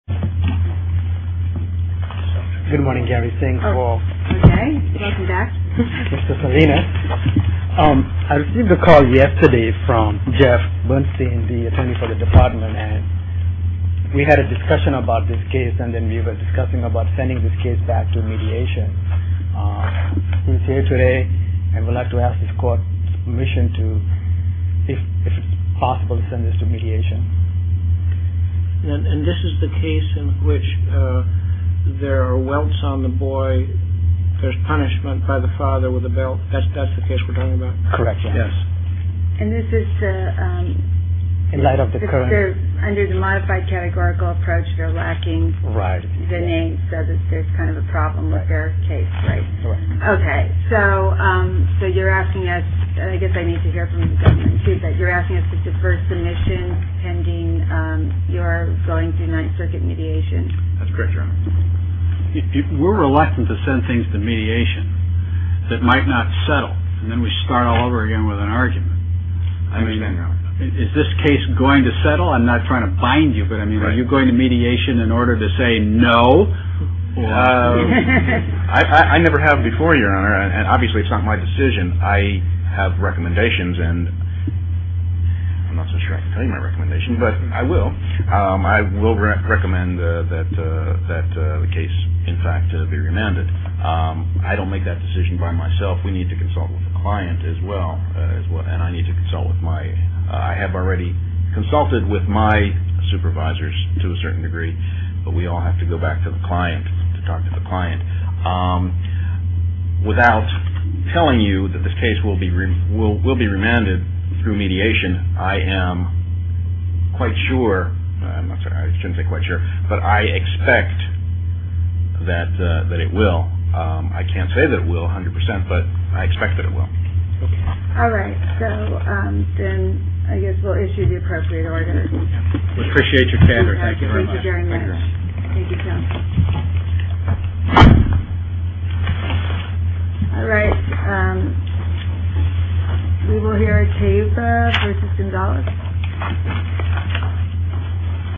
I received a call yesterday from Jeff Bernstein, the attorney for the department. We had a discussion about this case and then we were discussing about sending this case back to mediation. He's here today and would like to ask this court's permission if it's possible to send this to mediation. And this is the case in which there are welts on the boy, there's punishment by the father with a belt. That's the case we're talking about? And this is under the modified categorical approach, they're lacking the name, so there's kind of a problem with their case, right? Okay, so you're asking us, I guess I need to hear from the government too, but you're asking us to defer submission pending your going through Ninth Circuit mediation? That's correct, Your Honor. We're reluctant to send things to mediation that might not settle and then we start all over again with an argument. I understand, Your Honor. Is this case going to settle? I'm not trying to bind you, but are you going to mediation in order to say no? I never have before, Your Honor, and obviously it's not my decision. I have recommendations and I'm not so sure I can tell you my recommendations, but I will. I will recommend that the case, in fact, be remanded. I don't make that decision by myself. We need to consult with the client as well. I have already consulted with my supervisors to a certain degree, but we all have to go back to the client to talk to the client. Without telling you that this case will be remanded through mediation, I am quite sure, I shouldn't say quite sure, but I expect that it will. I can't say that it will 100 percent, but I expect that it will. All right. So then I guess we'll issue the appropriate order. We appreciate your candor. Thank you very much. Thank you very much. Thank you so much. All right. We will hear a case versus Gonzales.